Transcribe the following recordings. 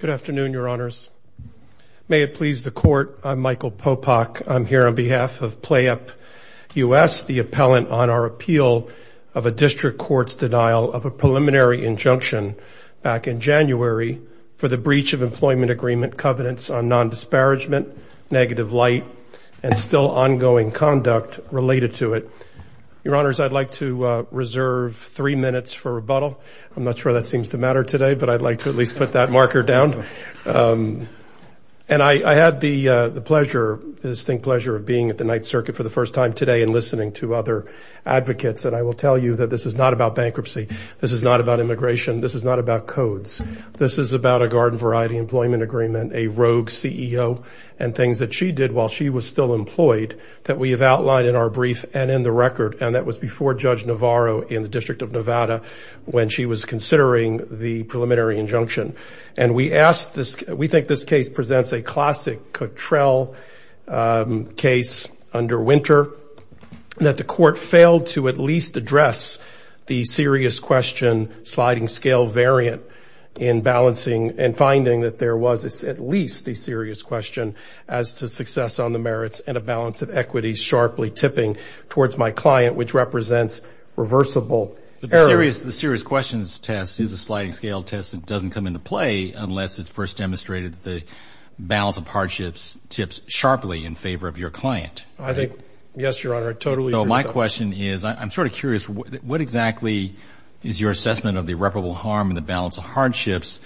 Good afternoon, Your Honors. May it please the Court, I'm Michael Popock. I'm here on behalf of PlayUp U.S., the appellant on our appeal of a district court's denial of a preliminary injunction back in January for the breach of employment agreement covenants on non-disparagement, negative light, and still ongoing conduct related to it. Your Honors, I'd like to reserve three minutes for rebuttal. I'm not sure that seems to matter today, but I'd like to at least put that marker down. And I had the pleasure, the distinct pleasure of being at the Ninth Circuit for the first time today and listening to other advocates. And I will tell you that this is not about bankruptcy. This is not about immigration. This is not about codes. This is about a garden variety employment agreement, a rogue CEO, and things that she did while she was still employed that we have outlined in our brief and in the record, and that was before Judge Navarro in the District of Nevada, when she was considering the preliminary injunction. And we asked this, we think this case presents a classic Cutrell case under Winter, that the Court failed to at least address the serious question sliding scale variant in balancing and finding that there was at least the serious question as to success on the merits and a balance of equity sharply tipping towards my client, which represents reversible error. The serious questions test is a sliding scale test that doesn't come into play unless it's first demonstrated that the balance of hardships tips sharply in favor of your client. I think, yes, Your Honor, I totally agree with that. So my question is, I'm sort of curious, what exactly is your assessment of the irreparable harm and the balance of hardships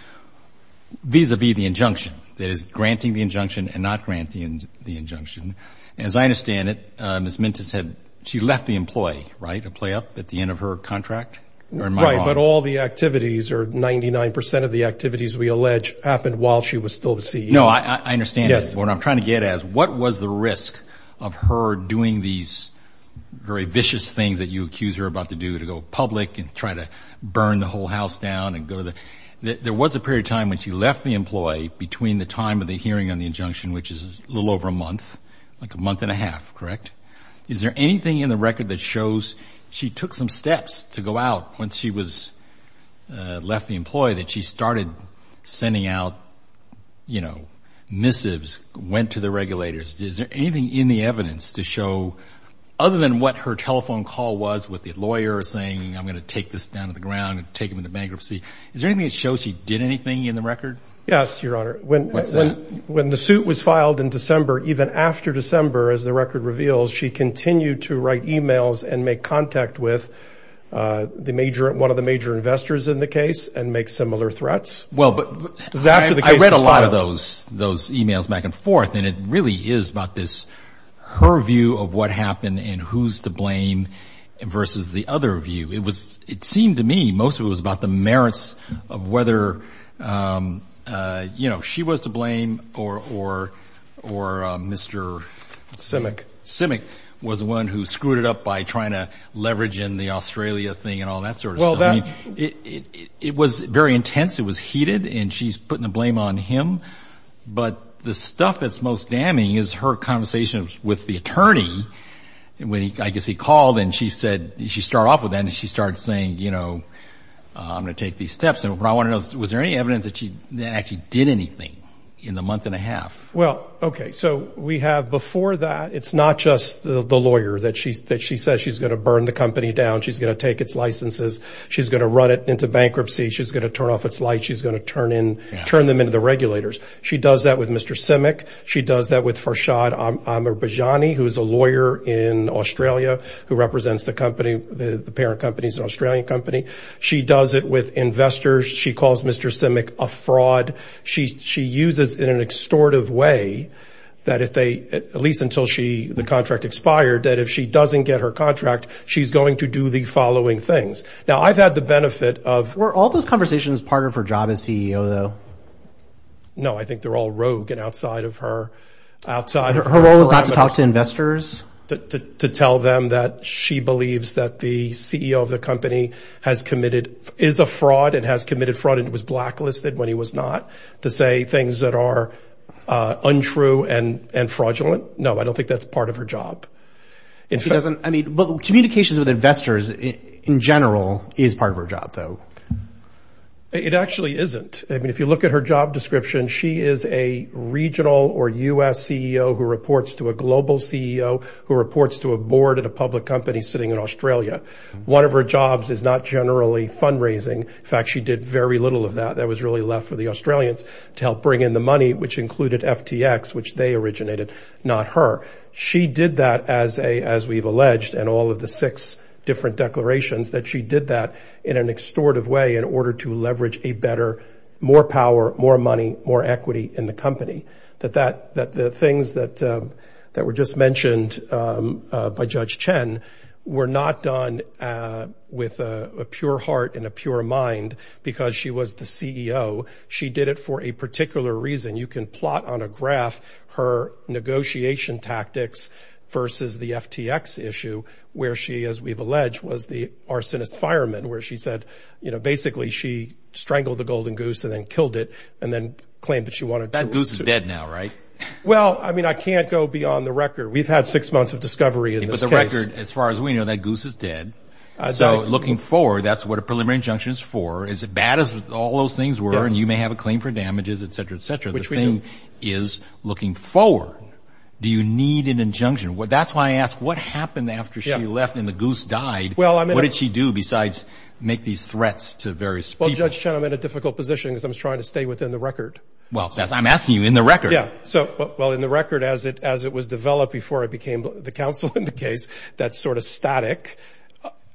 vis-a-vis the injunction, that is granting the injunction and not granting the injunction? As I understand it, Ms. Mintis had, she left the employee, right, to play up at the end of her contract? Right, but all the activities or 99% of the activities we allege happened while she was still the CEO. No, I understand what I'm trying to get at is what was the risk of her doing these very vicious things that you accuse her about to do to go public and try to burn the whole house down and go to the, there was a period of time when she left the employee between the time of hearing on the injunction, which is a little over a month, like a month and a half, correct? Is there anything in the record that shows she took some steps to go out when she was left the employee that she started sending out, you know, missives, went to the regulators? Is there anything in the evidence to show, other than what her telephone call was with the lawyer saying I'm going to take this down to the ground and take them into bankruptcy, is there anything that shows she did anything in the record? Yes, your honor, when the suit was filed in December, even after December, as the record reveals, she continued to write emails and make contact with the major, one of the major investors in the case and make similar threats. Well, but I read a lot of those those emails back and forth and it really is about this, her view of what happened and who's to blame versus the other view. It was, it seemed to me, most of it was about the merits of whether, you know, she was to blame or Mr. Simic was the one who screwed it up by trying to leverage in the Australia thing and all that sort of stuff. It was very intense, it was heated, and she's putting the blame on him, but the stuff that's most damning is her conversation with the attorney when he, I guess, he called and she said, she started off with that and she started saying, you know, I'm going to take these steps and what I want to know is, was there any evidence that she actually did anything in the month and a half? Well, okay, so we have before that, it's not just the lawyer that she's, that she says she's going to burn the company down, she's going to take its licenses, she's going to run it into bankruptcy, she's going to turn off its lights, she's going to turn in, turn them into the regulators. She does that with Mr. Simic, she does that with Farshad Amirbajani, who's a lawyer in Australia who represents the company, the parent company's an Australian company. She does it with investors, she calls Mr. Simic a fraud. She uses in an extortive way that if they, at least until she, the contract expired, that if she doesn't get her contract, she's going to do the following things. Now, I've had the benefit of... Were all those conversations part of her job as CEO though? No, I think they're all rogue and outside of her, outside her- Her role is not to talk to investors? To tell them that she believes that the CEO of the company has committed, is a fraud and has committed fraud and was blacklisted when he was not, to say things that are untrue and fraudulent? No, I don't think that's part of her job. I mean, but communications with investors in general is part of her job though. It actually isn't. I mean, if you look at her job description, she is a regional or US CEO who reports to a global CEO who reports to a board at a public company sitting in Australia. One of her jobs is not generally fundraising. In fact, she did very little of that. That was really left for the Australians to help bring in the money, which included FTX, which they originated, not her. She did that as we've alleged in all of the six different declarations that she did that in an extortive way in order to leverage a better, more power, more money, more equity in the company. That the things that were just mentioned by Judge Chen were not done with a pure heart and a pure mind because she was the CEO. She did it for a particular reason. You can plot on a graph her negotiation tactics versus the FTX issue where she, as we've alleged, was the arsonist fireman where she said, basically she strangled the golden goose and then killed it and then claimed that she wanted to- That goose is dead now, right? Well, I mean, I can't go beyond the record. We've had six months of discovery in this case. But the record, as far as we know, that goose is dead. So looking forward, that's what a preliminary injunction is for. Is it bad as all those things were and you may have a claim for damages, et cetera, et cetera. Which we do. The thing is looking forward. Do you need an Well, I mean- What did she do besides make these threats to various people? Well, Judge Chen, I'm in a difficult position because I'm trying to stay within the record. Well, I'm asking you in the record. Yeah. Well, in the record, as it was developed before I became the counsel in the case, that's sort of static.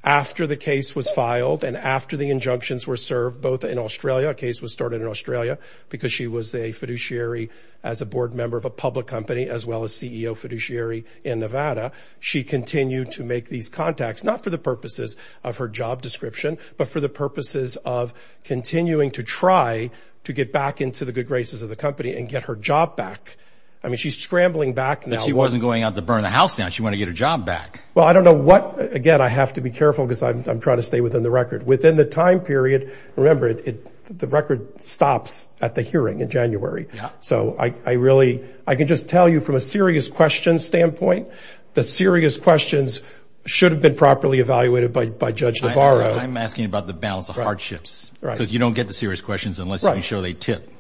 After the case was filed and after the injunctions were served, both in Australia, a case was started in Australia because she was a fiduciary as a board member of a public company as well as CEO fiduciary in Nevada. She continued to make these contacts, not for the purposes of her job description, but for the purposes of continuing to try to get back into the good graces of the company and get her job back. I mean, she's scrambling back now- But she wasn't going out to burn the house down. She wanted to get her job back. Well, I don't know what... Again, I have to be careful because I'm trying to stay within the record. Within the time period, remember, the record stops at the hearing in January. So I really... I can just tell you from a serious questions standpoint, the serious questions should have been properly evaluated by Judge Navarro. I'm asking about the balance of hardships because you don't get the serious questions unless you show they tip.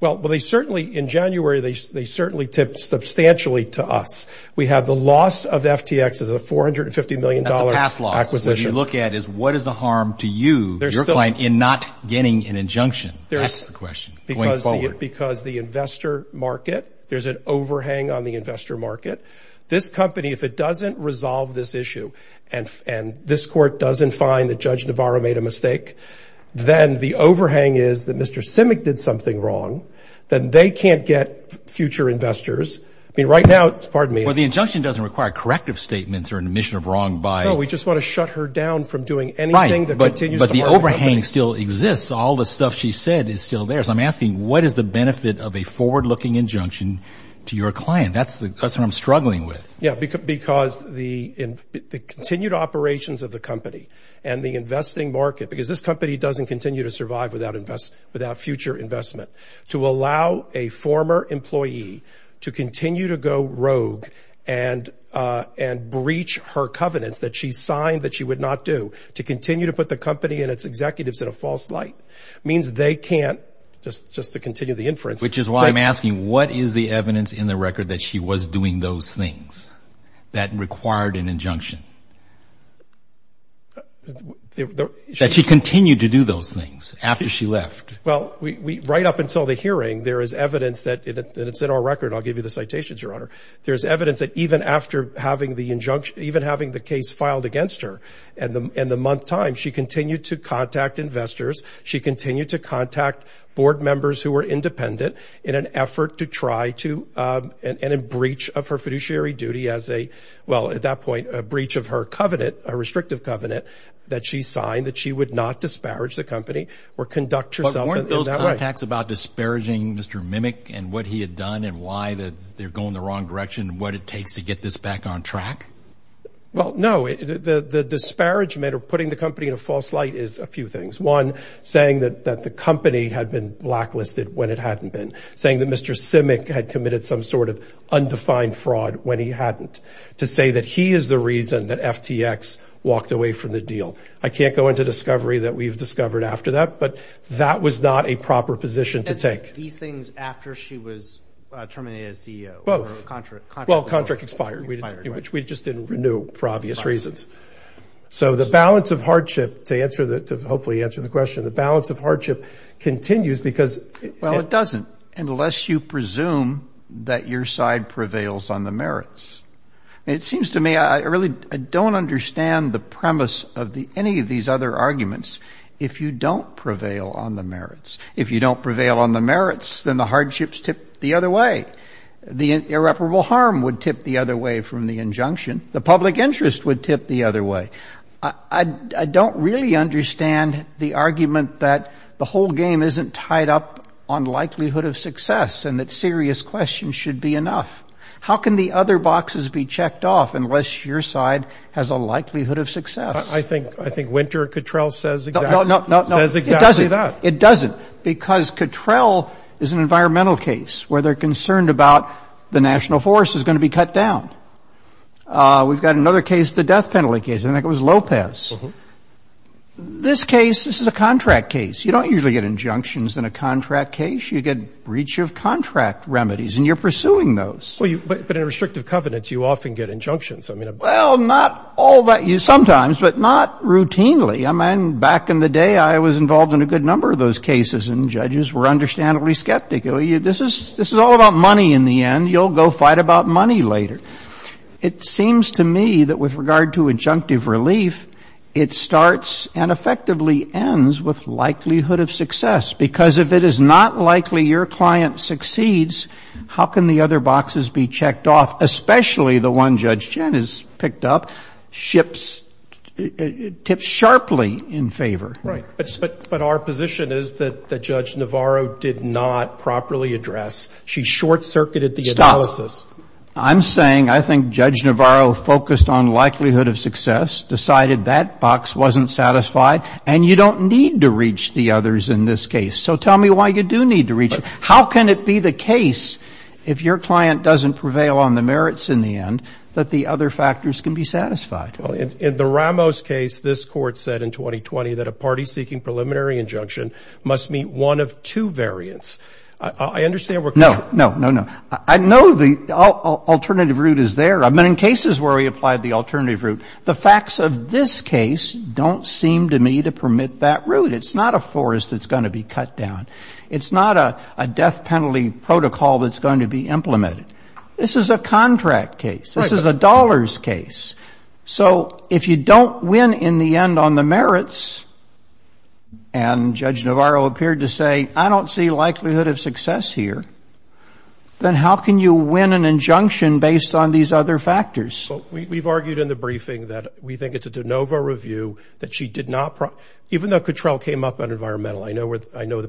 Well, they certainly... In January, they certainly tipped substantially to us. We have the loss of FTX as a $450 million acquisition. That's a past loss. What you look at is what is the harm to you, your client, in not getting an injunction? That's the question going forward. Because the investor market, there's an overhang on the investor market. This company, if it doesn't resolve this issue and this court doesn't find that Judge Navarro made a mistake, then the overhang is that Mr. Simic did something wrong, then they can't get future investors. I mean, right now, pardon me- Well, the injunction doesn't require corrective statements or admission of wrong by- No, we just want to shut her down from doing anything that continues to harm the company. All the stuff she said is still theirs. I'm asking, what is the benefit of a forward-looking injunction to your client? That's what I'm struggling with. Yeah, because the continued operations of the company and the investing market, because this company doesn't continue to survive without future investment, to allow a former employee to continue to go rogue and breach her covenants that she believes in a false light, means they can't, just to continue the inference- Which is why I'm asking, what is the evidence in the record that she was doing those things that required an injunction? That she continued to do those things after she left? Well, right up until the hearing, there is evidence that, and it's in our record, I'll give you the citations, Your Honor. There's evidence that even after having the case filed against her and the month time, she continued to contact investors. She continued to contact board members who were independent in an effort to try to, and in breach of her fiduciary duty as a, well, at that point, a breach of her covenant, a restrictive covenant that she signed that she would not disparage the company or conduct herself in that way. But weren't those contacts about disparaging Mr. Mimic and what he had done and why they're going the wrong direction, what it takes to get this back on track? Well, no. The disparagement or putting the company in a false light is a few things. One, saying that the company had been blacklisted when it hadn't been. Saying that Mr. Simic had committed some sort of undefined fraud when he hadn't. To say that he is the reason that FTX walked away from the deal. I can't go into discovery that we've discovered after that, but that was not a proper position to take. These things after she was terminated as CEO, or contract- For obvious reasons. So the balance of hardship, to hopefully answer the question, the balance of hardship continues because- Well, it doesn't, unless you presume that your side prevails on the merits. It seems to me, I really don't understand the premise of any of these other arguments if you don't prevail on the merits. If you don't prevail on the merits, then the hardships tip the other way. The irreparable harm would tip the other way from the injunction. The public interest would tip the other way. I don't really understand the argument that the whole game isn't tied up on likelihood of success and that serious questions should be enough. How can the other boxes be checked off unless your side has a likelihood of success? I think, I think Winter Cottrell says exactly that. No, no, no, it doesn't. It doesn't. Because Cottrell is an environmental case where they're concerned about the national forest is going to be cut down. We've got another case, the death penalty case. I think it was Lopez. This case, this is a contract case. You don't usually get injunctions in a contract case. You get breach of contract remedies, and you're pursuing those. Well, but in a restrictive covenants, you often get injunctions. I mean- Well, not all that you sometimes, but not routinely. I mean, back in the day, I was involved in a good number of those cases, and judges were understandably skeptical. This is all about money in the end. You'll go fight about money later. It seems to me that with regard to injunctive relief, it starts and effectively ends with likelihood of success. Because if it is not likely your client succeeds, how can the other boxes be checked off, especially the one Judge Chen has picked up, ships, tips sharply in favor? But our position is that Judge Navarro did not properly address. She short-circuited the- Stop. I'm saying I think Judge Navarro focused on likelihood of success, decided that box wasn't satisfied, and you don't need to reach the others in this case. So tell me why you do need to reach them. How can it be the case, if your client doesn't prevail on the merits in the end, that the other factors can be satisfied? In the Ramos case, this court said in 2020 that a party seeking preliminary injunction must meet one of two variants. I understand we're- No, no, no, no. I know the alternative route is there. I mean, in cases where we applied the alternative route, the facts of this case don't seem to me to permit that route. It's not a forest that's going to be cut down. It's not a death penalty protocol that's going to be So if you don't win in the end on the merits, and Judge Navarro appeared to say, I don't see likelihood of success here, then how can you win an injunction based on these other factors? Well, we've argued in the briefing that we think it's a de novo review that she did not- Even though Cottrell came up on environmental, I know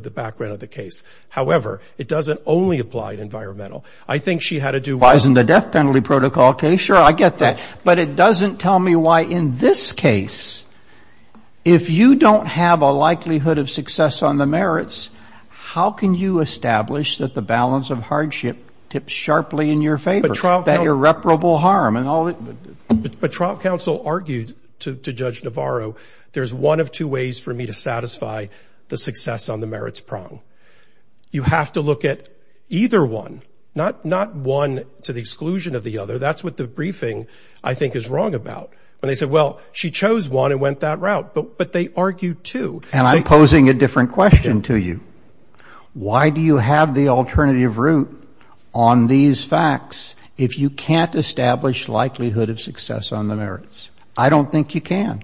the background of the case. However, it doesn't only apply to environmental. I think she had to do- In the death penalty protocol case, sure, I get that. But it doesn't tell me why in this case, if you don't have a likelihood of success on the merits, how can you establish that the balance of hardship tips sharply in your favor, that irreparable harm and all- But trial counsel argued to Judge Navarro, there's one of two ways for me to satisfy the success on the merits prong. You have to look at either one, not one to the exclusion of the other. That's what the briefing, I think, is wrong about. When they said, well, she chose one and went that route, but they argued two- And I'm posing a different question to you. Why do you have the alternative route on these facts if you can't establish likelihood of success on the merits? I don't think you can.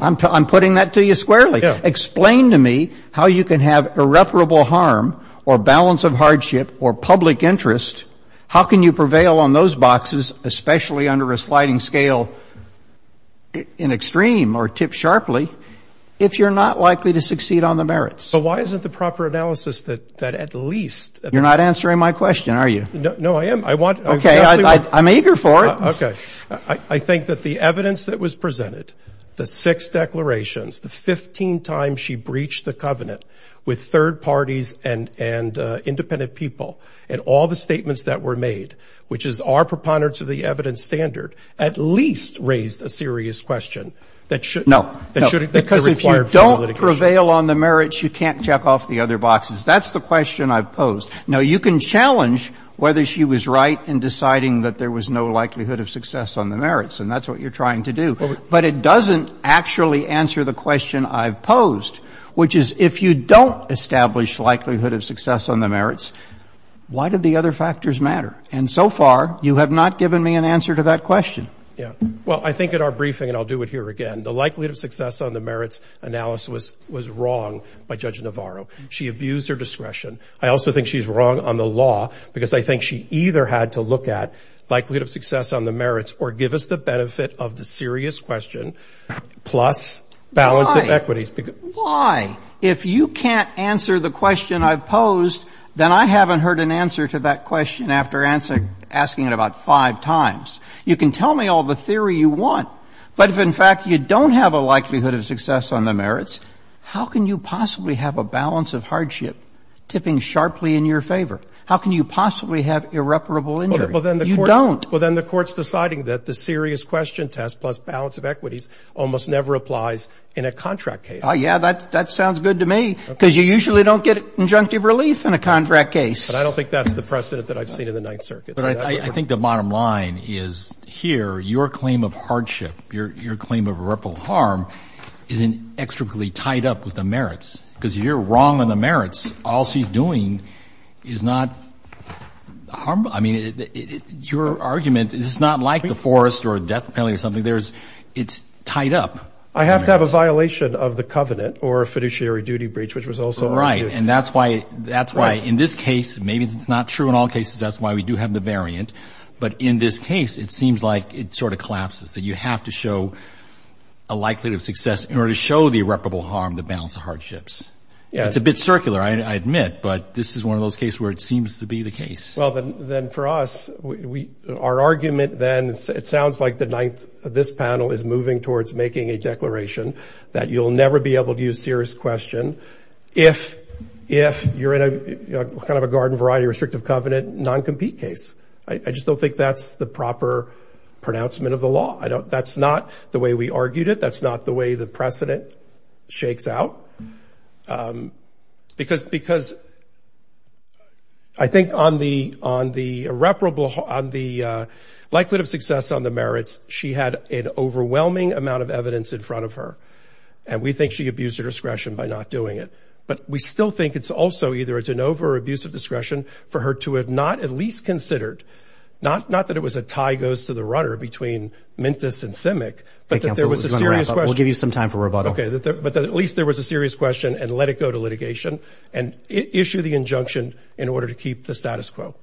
I'm putting that to you squarely. Explain to me how you can have irreparable harm or balance of hardship or public interest. How can you prevail on those boxes, especially under a sliding scale in extreme or tip sharply if you're not likely to succeed on the merits? But why isn't the proper analysis that at least- You're not answering my question, are you? No, I am. I want- Okay. I'm eager for it. Okay. I think that the evidence that was presented, the six declarations, the 15 times she breached the covenant with third parties and independent people, and all the statements that were made, which is our preponderance of the evidence standard, at least raised a serious question that should- No. That should- Because if you don't prevail on the merits, you can't check off the other boxes. That's the question I've posed. Now, you can challenge whether she was right in deciding that there was no likelihood of success on the merits, and that's what you're trying to do. But it doesn't actually answer the question I've posed, which is if you don't establish likelihood of success on the merits, why did the other factors matter? And so far, you have not given me an answer to that question. Yeah. Well, I think in our briefing, and I'll do it here again, the likelihood of success on the merits analysis was wrong by Judge Navarro. She abused her discretion. I also think she's wrong on the law because I think she either had to look at of the serious question plus balance of equities. Why? Why? If you can't answer the question I've posed, then I haven't heard an answer to that question after asking it about five times. You can tell me all the theory you want, but if, in fact, you don't have a likelihood of success on the merits, how can you possibly have a balance of hardship tipping sharply in your favor? How can you possibly have irreparable injury? You don't. Well, then the court's deciding that the serious question test plus balance of equities almost never applies in a contract case. Yeah, that sounds good to me because you usually don't get injunctive relief in a contract case. But I don't think that's the precedent that I've seen in the Ninth Circuit. But I think the bottom line is here, your claim of hardship, your claim of irreparable harm isn't extremely tied up with the merits because you're wrong on the merits. All she's doing is not harm. I mean, your argument is it's not like the forest or death penalty or something. It's tied up. I have to have a violation of the covenant or a fiduciary duty breach, which was also argued. Right. And that's why in this case, maybe it's not true in all cases, that's why we do have the variant. But in this case, it seems like it sort of collapses, that you have to show a likelihood of success in order to show the irreparable harm, the balance of hardships. It's a bit circular, I admit. But this is one of those cases where it seems to be the case. Then for us, our argument then, it sounds like the Ninth, this panel is moving towards making a declaration that you'll never be able to use serious question if you're in a kind of a garden variety restrictive covenant non-compete case. I just don't think that's the proper pronouncement of the law. That's not the way we argued it. That's not the way the precedent shakes out. Because I think on the likelihood of success on the merits, she had an overwhelming amount of evidence in front of her. And we think she abused her discretion by not doing it. But we still think it's also either a de novo or abuse of discretion for her to have not at least considered, not that it was a tie goes to the runner between Mintus and Simic, but that there was a serious question. We'll give you some time for rebuttal. But at least there was a serious question and let it go to litigation and issue the injunction in order to keep the status quo.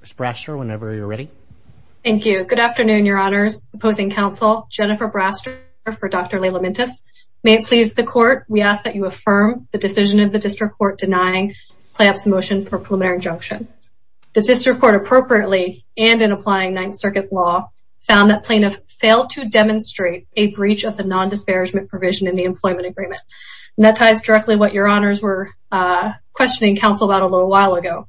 Ms. Brasher, whenever you're ready. Thank you. Good afternoon, your honors. Opposing counsel, Jennifer Brasher for Dr. Layla Mintus. May it please the court. We ask that you affirm the decision of the district court denying playups motion for preliminary injunction. The district court appropriately and in applying Ninth Circuit law found that plaintiff failed to demonstrate a breach of the non-disparagement provision in the employment agreement. And that ties directly what your honors were questioning counsel about a little while ago.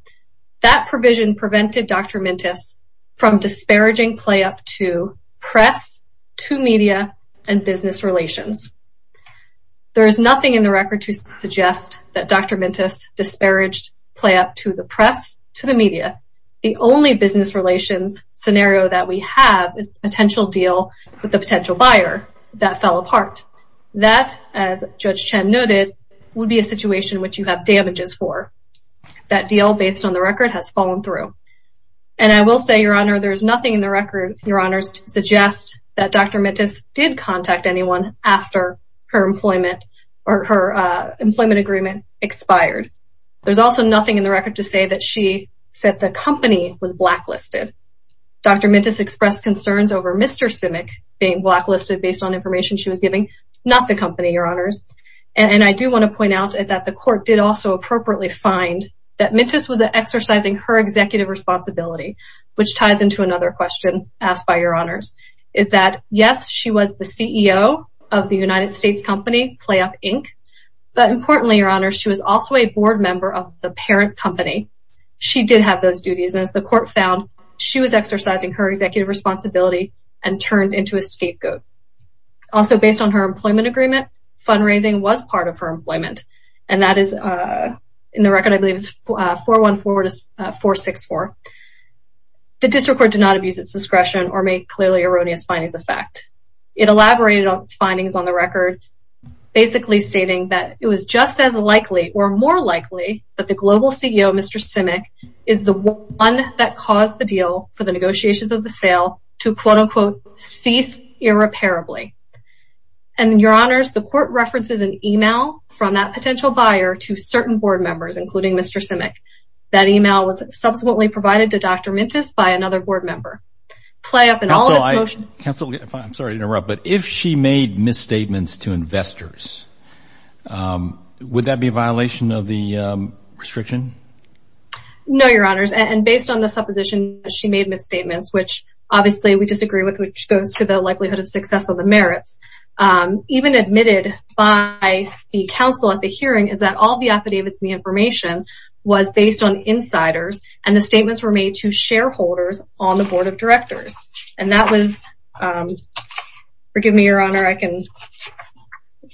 That provision prevented Dr. Mintus from disparaging playup to press, to media and business relations. There is nothing in the record to suggest that Dr. Mintus disparaged playup to the press, to the media. The only business relations scenario that we have is the potential deal with the potential buyer that fell apart. That, as Judge Chen noted, would be a situation which you have damages for. That deal based on the record has fallen through. And I will say, your honor, there's nothing in the record, your honors, to suggest that Dr. Mintus did contact anyone after her employment agreement expired. There's also nothing in the record to say that she said the company was blacklisted. Dr. Mintus expressed concerns over Mr. Simic being blacklisted based on information she was giving. Not the company, your honors. And I do want to point out that the court did also appropriately find that Mintus was exercising her executive responsibility, which ties into another question asked by your honors. Is that, yes, she was the CEO of the United States company, PlayUp Inc. But importantly, your honors, she was also a board member of the parent company. She did have those duties. And as the court found, she was exercising her executive responsibility and turned into a scapegoat. Also, based on her employment agreement, fundraising was part of her employment. And that is, in the record, I believe it's 414 to 464. The district court did not abuse its discretion or make clearly erroneous findings of fact. It elaborated on its findings on the record, basically stating that it was just as likely or more likely that the global CEO, Mr. Simic, is the one that caused the deal for the negotiations of the sale to, quote unquote, cease irreparably. And your honors, the court references an email from that potential buyer to certain board members, including Mr. Simic. That email was subsequently provided to Dr. Mintus by another board member. PlayUp and all of its motion- Counsel, I'm sorry to interrupt, but if she made misstatements to investors, would that be a violation of the restriction? No, your honors. And based on the supposition that she made misstatements, which obviously we disagree with, which goes to the likelihood of success of the merits, even admitted by the counsel at the hearing is that all the affidavits and the information was based on insiders and the statements were made to shareholders on the board of directors. And that was, forgive me, your honor, I can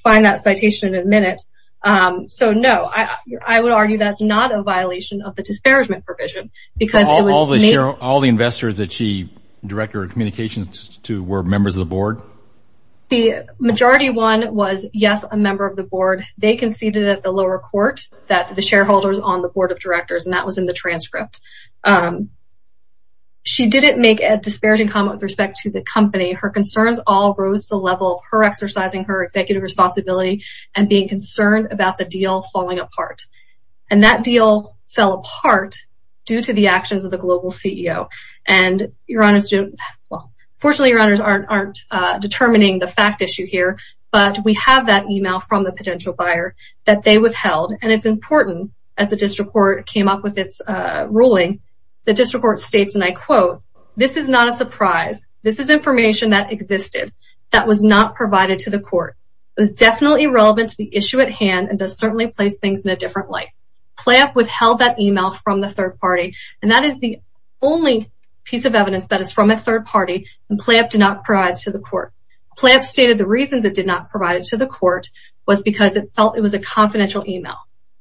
find that citation in a minute. So, no, I would argue that's not a violation of the disparagement provision. Because it was made- All the investors that she directed her communications to were members of the board? The majority one was, yes, a member of the board. They conceded at the lower court that the shareholders on the board of directors, and that was in the transcript. She didn't make a disparaging comment with respect to the company. Her concerns all rose to the level of her exercising her executive responsibility and being concerned about the deal falling apart. And that deal fell apart due to the actions of the global CEO. And your honors don't- Well, fortunately, your honors aren't determining the fact issue here, but we have that email from the potential buyer that they withheld. And it's important, as the district court came up with its ruling, the district court states, and I quote, this is not a surprise. This is information that existed that was not provided to the court. It was definitely relevant to the issue at hand and does certainly place things in a different light. Playup withheld that email from the third party. And that is the only piece of evidence that is from a third party and Playup did not provide to the court. Playup stated the reasons it did not provide it to the court was because it felt it was a confidential email.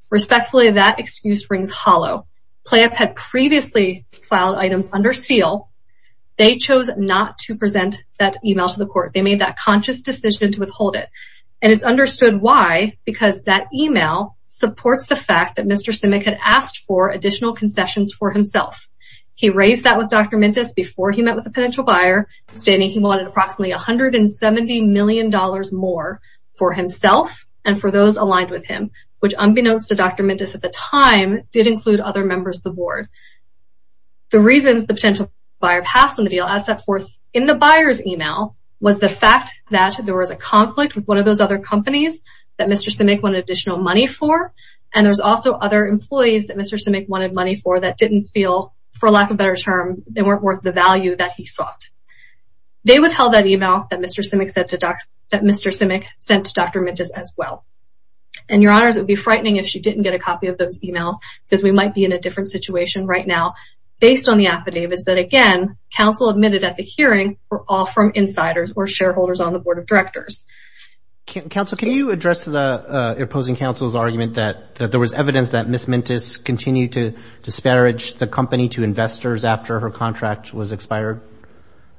Respectfully, that excuse rings hollow. Playup had previously filed items under seal. They chose not to present that email to the court. They made that conscious decision to withhold it. And it's understood why, because that email supports the fact that Mr. Simic had asked for additional concessions for himself. He raised that with Dr. Mintus before he met with the potential buyer, stating he wanted approximately $170 million more for himself and for those aligned with him, which unbeknownst to Dr. Mintus at the time did include other members of the board. The reasons the potential buyer passed on the deal as set forth in the buyer's email was the fact that there was a conflict with one of those other companies that Mr. Simic wanted additional money for. And there's also other employees that Mr. Simic wanted money for that didn't feel, for lack of a better term, they weren't worth the value that he sought. They withheld that email that Mr. Simic sent to Dr. Mintus as well. And your honors, it would be frightening if she didn't get a copy of those emails because we might be in a different situation right now. Based on the affidavits that, again, counsel admitted at the hearing were all from insiders or shareholders on the board of directors. Counsel, can you address the opposing counsel's argument that there was evidence that Ms. Mintus continued to disparage the company to investors after her contract was expired?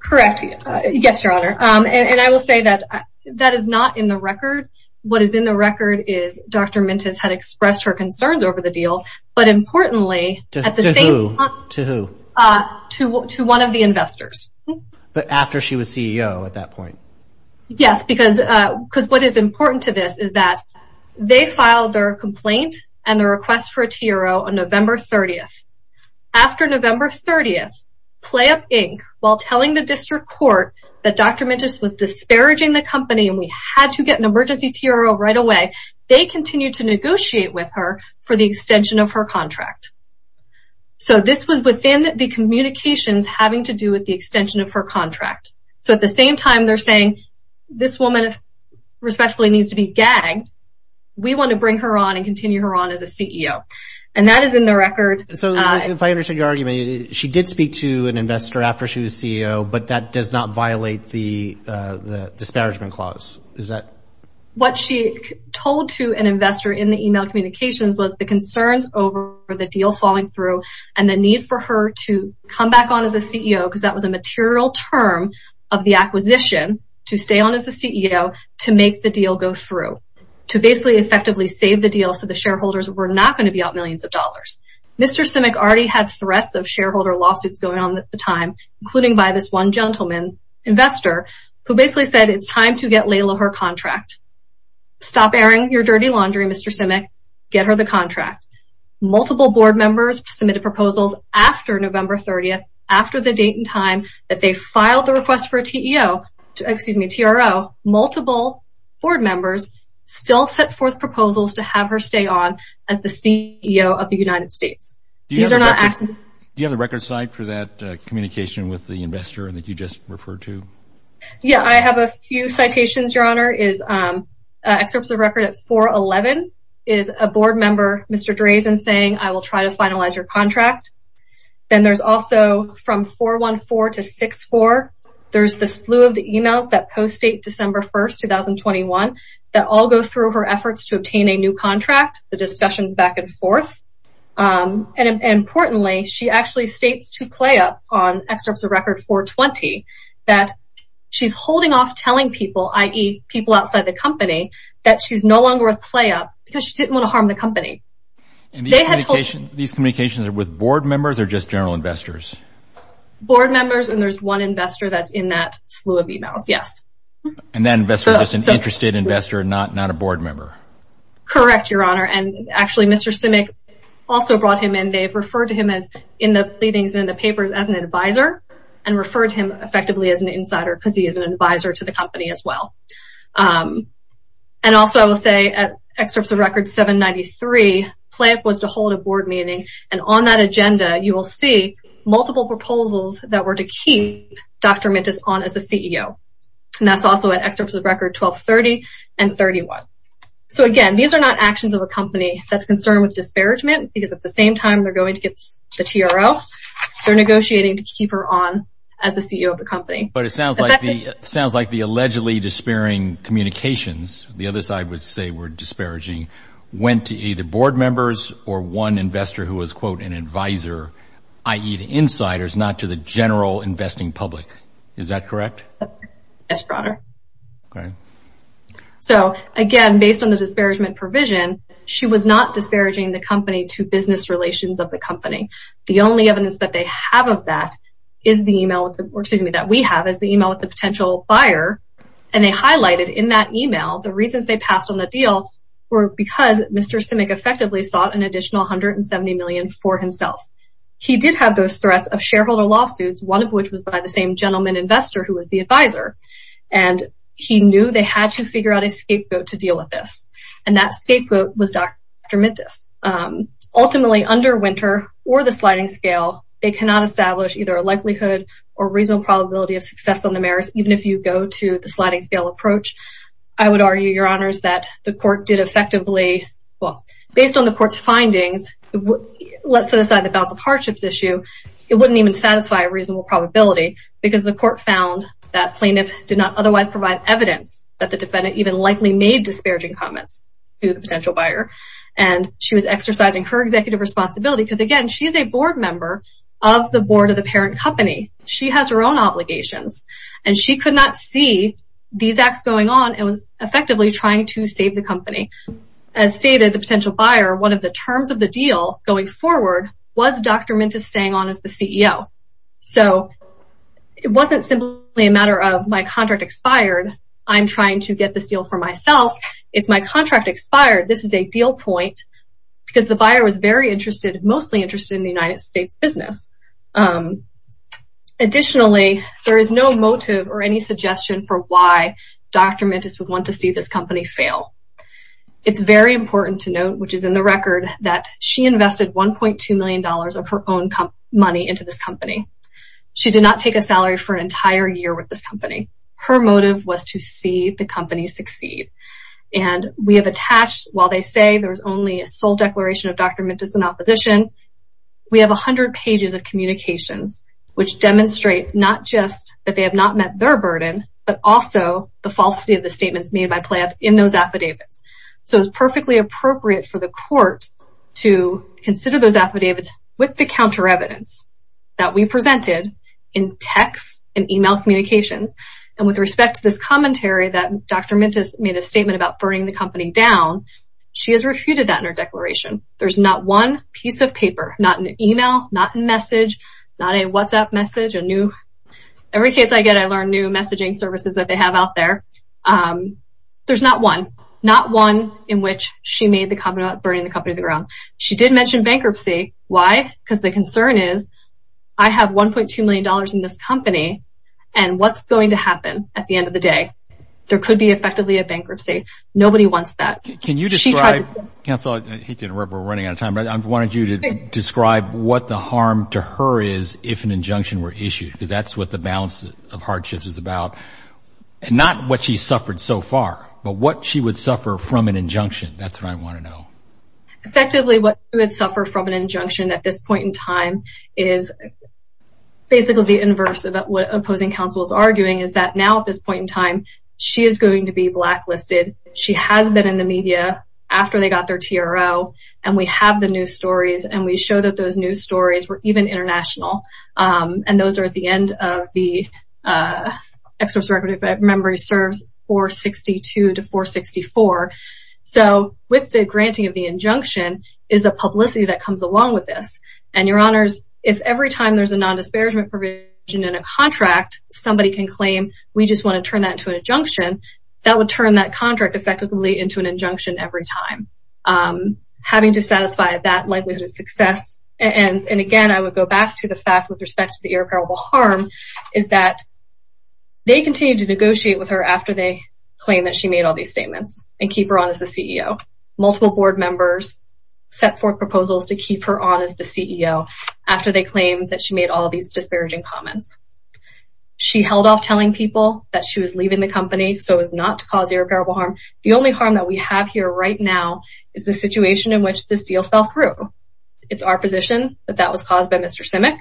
Correct. Yes, your honor. And I will say that that is not in the record. What is in the record is Dr. Mintus had expressed her concerns over the deal, but importantly, at the same time... To who? To one of the investors. But after she was CEO at that point? Yes, because what is important to this is that they filed their complaint and the request for a TRO on November 30th. After November 30th, PlayUp Inc., while telling the district court that Dr. Mintus was disparaging the company and we had to get an emergency TRO right away, they continued to negotiate with her for the extension of her contract. So this was within the communications having to do with the extension of her contract. So at the same time, they're saying, this woman respectfully needs to be gagged. We want to bring her on and continue her on as a CEO. And that is in the record. So if I understand your argument, she did speak to an investor after she was CEO, but that does not violate the disparagement clause. What she told to an investor in the email communications was the concerns over the deal falling through and the need for her to come back on as a CEO because that was a material term of the acquisition to stay on as a CEO to make the deal go through, to basically effectively save the deal so the shareholders were not going to be out millions of dollars. Mr. Simic already had threats of shareholder lawsuits going on at the time, including by this one gentleman investor who basically said it's time to get Layla her contract. Stop airing your dirty laundry, Mr. Simic. Get her the contract. Multiple board members submitted proposals after November 30th, after the date and time that they filed the request for a TRO, multiple board members still set forth proposals to have her stay on as the CEO of the United States. Do you have the record site for that communication with the investor that you just referred to? Yeah, I have a few citations, Your Honor. Excerpts of record at 4-11 is a board member, Mr. Drazen, saying I will try to finalize your contract. Then there's also from 4-1-4 to 6-4, there's the slew of the emails that post-date December 1st, 2021 that all go through her efforts to obtain a new contract, the discussions back and forth. Importantly, she actually states to PlayUp on excerpts of record 4-20 that she's holding off telling people, i.e. people outside the company, that she's no longer with PlayUp because she didn't want to harm the company. These communications are with board members or just general investors? Board members and there's one investor that's in that slew of emails, yes. And that investor is just an interested investor, not a board member? Correct, Your Honor. Actually, Mr. Simic also brought him in. They've referred to him in the pleadings and in the papers as an advisor and referred to him effectively as an insider because he is an advisor to the company as well. Also, I will say at excerpts of record 7-93, PlayUp was to hold a board meeting. On that agenda, you will see multiple proposals that were to keep Dr. Mintis on as a CEO. That's also at excerpts of record 12-30 and 31. So again, these are not actions of a company that's concerned with disparagement because at the same time, they're going to get the TRO. They're negotiating to keep her on as the CEO of the company. But it sounds like the allegedly despairing communications, the other side would say were disparaging, went to either board members or one investor who was, quote, an advisor, i.e. the insiders, not to the general investing public. Is that correct? Yes, Your Honor. Okay. So again, based on the disparagement provision, she was not disparaging the company to business relations of the company. The only evidence that they have of that is the email, or excuse me, that we have is the email with the potential buyer. And they highlighted in that email, the reasons they passed on the deal were because Mr. Simic effectively sought an additional $170 million for himself. He did have those threats of shareholder lawsuits, one of which was by the same gentleman investor who was the advisor. And he knew they had to figure out a scapegoat to deal with this. And that scapegoat was Dr. Mintis. Ultimately, under Winter or the sliding scale, they cannot establish either a likelihood or reasonable probability of success on the merits, even if you go to the sliding scale approach. I would argue, Your Honors, that the court did effectively, well, based on the court's findings, let's set aside the balance of hardships issue, it wouldn't even satisfy a reasonable probability because the court found that plaintiff did not otherwise provide evidence that the defendant even likely made disparaging comments to the potential buyer. And she was exercising her executive responsibility because again, she is a board member of the board of the parent company. She has her own obligations. And she could not see these acts going on. It was effectively trying to save the company. As stated, the potential buyer, one of the terms of the deal going forward was Dr. Mintis staying on as the CEO. So it wasn't simply a matter of my contract expired. I'm trying to get this deal for myself. It's my contract expired. This is a deal point because the buyer was very interested, mostly interested in the United States business. Additionally, there is no motive or any suggestion for why Dr. Mintis would want to see this company fail. It's very important to note, which is in the record, that she invested $1.2 million of her own money into this company. She did not take a salary for an entire year with this company. Her motive was to see the company succeed. And we have attached, while they say there was only a sole declaration of Dr. Mintis in opposition, we have 100 pages of communications which demonstrate not just that they have not met their burden, but also the falsity of the statements made by Planned in those affidavits. So it was perfectly appropriate for the court to consider those affidavits with the counter evidence that we presented in text and email communications. And with respect to this commentary that Dr. Mintis made a statement about burning the company down, she has refuted that in her declaration. There's not one piece of paper, not an email, not a message, not a WhatsApp message, a new... Every case I get, I learn new messaging services that they have out there. There's not one, not one in which she made the comment about burning the company to the ground. She did mention bankruptcy. Why? Because the concern is, I have $1.2 million in this company and what's going to happen at the end of the day? There could be effectively a bankruptcy. Nobody wants that. Can you describe... Counselor, we're running out of time, but I wanted you to describe what the harm to her is if an injunction were issued, because that's what the balance of hardships is about. And not what she suffered so far, but what she would suffer from an injunction. That's what I want to know. Effectively, what you would suffer from an injunction at this point in time is basically the inverse of what opposing counsel is arguing is that now at this point in time, she is going to be blacklisted. She has been in the media after they got their TRO and we have the news stories and we show that those news stories were even international. And those are at the end of the exorcist record, if I remember, serves 462 to 464. So with the granting of the injunction is a publicity that comes along with this. And your honors, if every time there's a non-disparagement provision in a contract, somebody can claim we just want to turn that into an injunction. That would turn that contract effectively into an injunction every time. Having to satisfy that likelihood of success. And again, I would go back to the fact with respect to the irreparable harm is that they continue to negotiate with her after they claim that she made all these statements and keep her on as the CEO. Multiple board members set forth proposals to keep her on as the CEO after they claim that she made all these disparaging comments. She held off telling people that she was leaving the company so as not to cause irreparable harm. The only harm that we have here right now is the situation in which this deal fell through. It's our position that that was caused by Mr. Simic.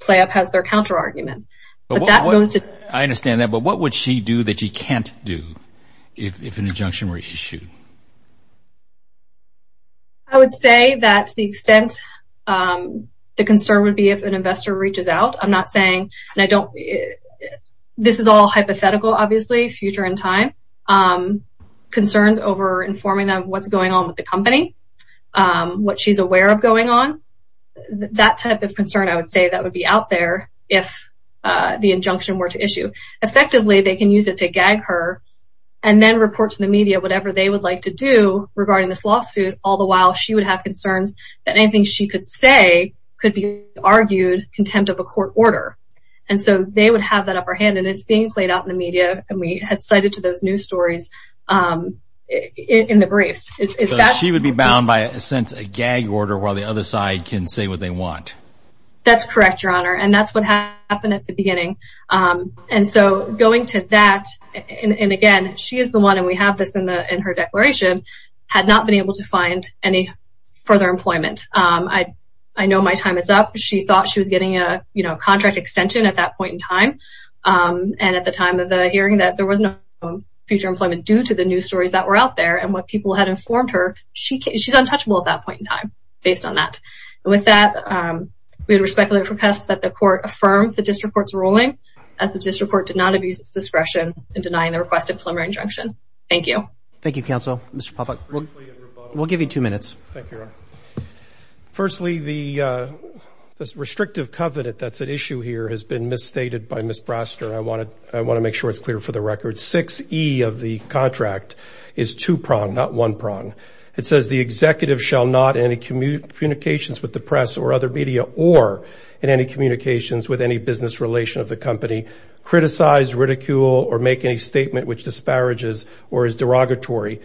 Playup has their counter argument. I understand that, but what would she do that she can't do if an injunction were issued? I would say that the extent the concern would be if an investor reaches out. I'm not saying and I don't. This is all hypothetical, obviously, future in time. Concerns over informing them what's going on with the company, what she's aware of going on. That type of concern, I would say that would be out there if the injunction were to issue. Effectively, they can use it to gag her and then report to the media whatever they would like to do regarding this lawsuit. All the while, she would have concerns that anything she could say could be argued contempt of a court order. And so they would have that upper hand and it's being played out in the media. And we had cited to those news stories in the briefs. She would be bound by a sense a gag order while the other side can say what they want. That's correct, Your Honor. And that's what happened at the beginning. And so going to that, and again, she is the one and we have this in her declaration, had not been able to find any further employment. I know my time is up. She thought she was getting a contract extension at that point in time. And at the time of the hearing that there was no future employment due to the news stories that were out there and what people had informed her, she's untouchable at that point in time based on that. And with that, we would respectfully request that the court affirm the district court's ruling as the district court did not abuse its discretion in denying the requested preliminary injunction. Thank you. Thank you, counsel. Mr. Popak, we'll give you two minutes. Firstly, the restrictive covenant that's at issue here has been misstated by Ms. Braster. I want to make sure it's clear for the record. 6E of the contract is two prong, not one prong. It says the executive shall not in any communications with the press or other media or in any communications with any business relation of the company criticize, ridicule, or make any statement which disparages or is derogatory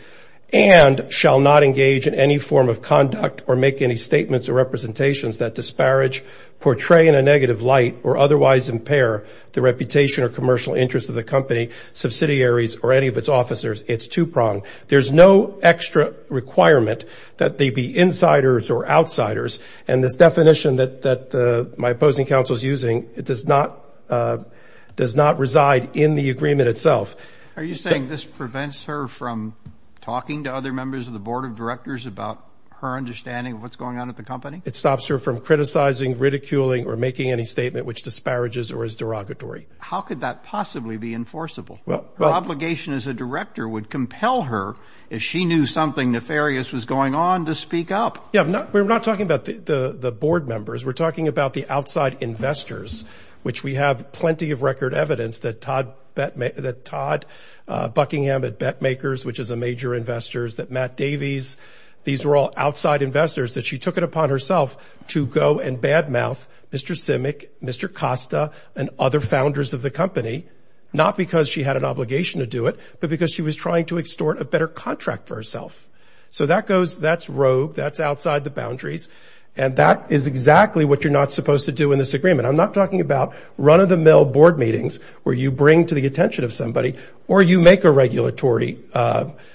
and shall not engage in any form of conduct or make any statements or representations that disparage, portray in a negative light or otherwise impair the reputation or commercial interest of the company, subsidiaries, or any of its officers. It's two prong. There's no extra requirement that they be insiders or outsiders. And this definition that my opposing counsel is using, it does not reside in the agreement itself. Are you saying this prevents her from talking to other members of the board of directors about her understanding of what's going on at the company? It stops her from criticizing, ridiculing, or making any statement which disparages or is derogatory. How could that possibly be enforceable? Her obligation as a director would compel her if she knew something nefarious was going on to speak up. Yeah, we're not talking about the board members. We're talking about the outside investors, which we have plenty of record evidence that Todd Buckingham at BetMakers, which is a major investors, that Matt Davies, these were all outside investors that she took it upon herself to go and badmouth Mr. Simic, Mr. Costa, and other founders of the company, not because she had an obligation to do it, but because she was trying to extort a better contract for herself. So that goes, that's rogue, that's outside the boundaries, and that is exactly what you're not supposed to do in this agreement. I'm not talking about run-of-the-mill board meetings where you bring to the attention of somebody or you make a regulatory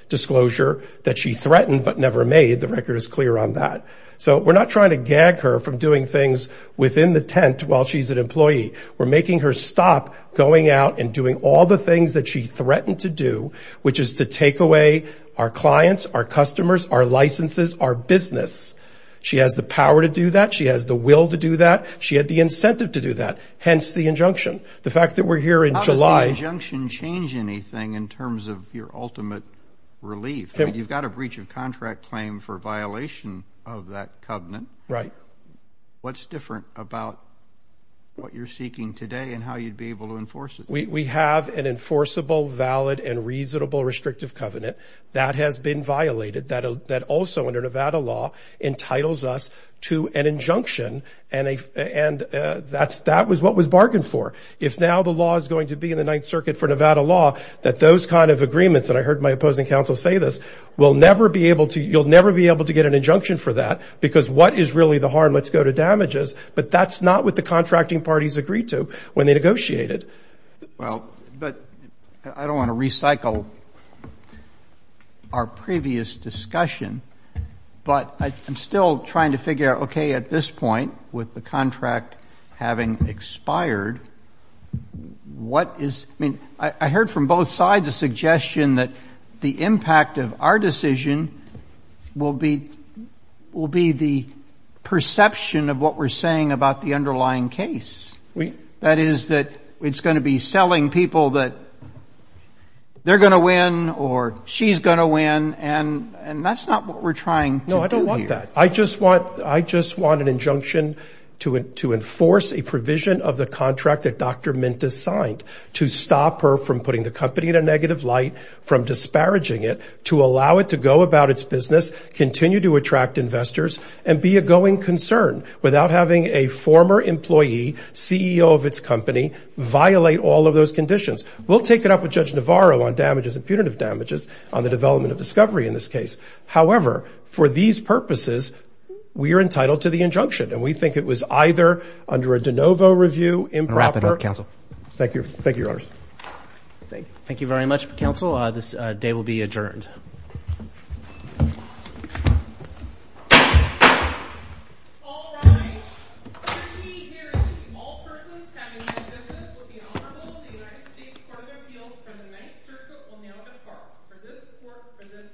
disclosure that she threatened but never made. The record is clear on that. So we're not trying to gag her from doing things within the tent while she's an employee. We're making her stop going out and doing all the things that she threatened to do, which is to take away our clients, our customers, our licenses, our business. She has the power to do that. She has the will to do that. She had the incentive to do that, hence the injunction. The fact that we're here in July... How does the injunction change anything in terms of your ultimate relief? You've got a breach of contract claim for violation of that covenant. Right. What's different about what you're seeking today and how you'd be able to enforce it? We have an enforceable, valid, and reasonable restrictive covenant that has been violated that also, under Nevada law, entitles us to an injunction. And that was what was bargained for. If now the law is going to be in the Ninth Circuit for Nevada law, that those kind of agreements that I heard my opposing counsel say this, you'll never be able to get an injunction for that because what is really the harm? Let's go to damages. the contracting parties agreed to when they negotiated. Well, but I don't want to recycle our previous discussion, but I'm still trying to figure out, okay, at this point, with the contract having expired, what is... I mean, I heard from both sides a suggestion that the impact of our decision will be the perception of what we're saying about the underlying case. That is that it's going to be selling people that they're going to work or she's going to win. And that's not what we're trying. No, I don't want that. I just want an injunction to enforce a provision of the contract that Dr. Mintis signed to stop her from putting the company in a negative light, from disparaging it, to allow it to go about its business, continue to attract investors, and be a going concern without having a former employee, CEO of its company, violate all of those conditions. We'll take it up with Judge Navarro on damages, impunitive damages, on the development of discovery in this case. However, for these purposes, we are entitled to the injunction. And we think it was either under a de novo review, improper... Wrap it up, counsel. Thank you. Thank you, your honors. Thank you. Thank you very much, counsel. This day will be adjourned. The circuit will now depart. For this court, for this section, now is adjourned.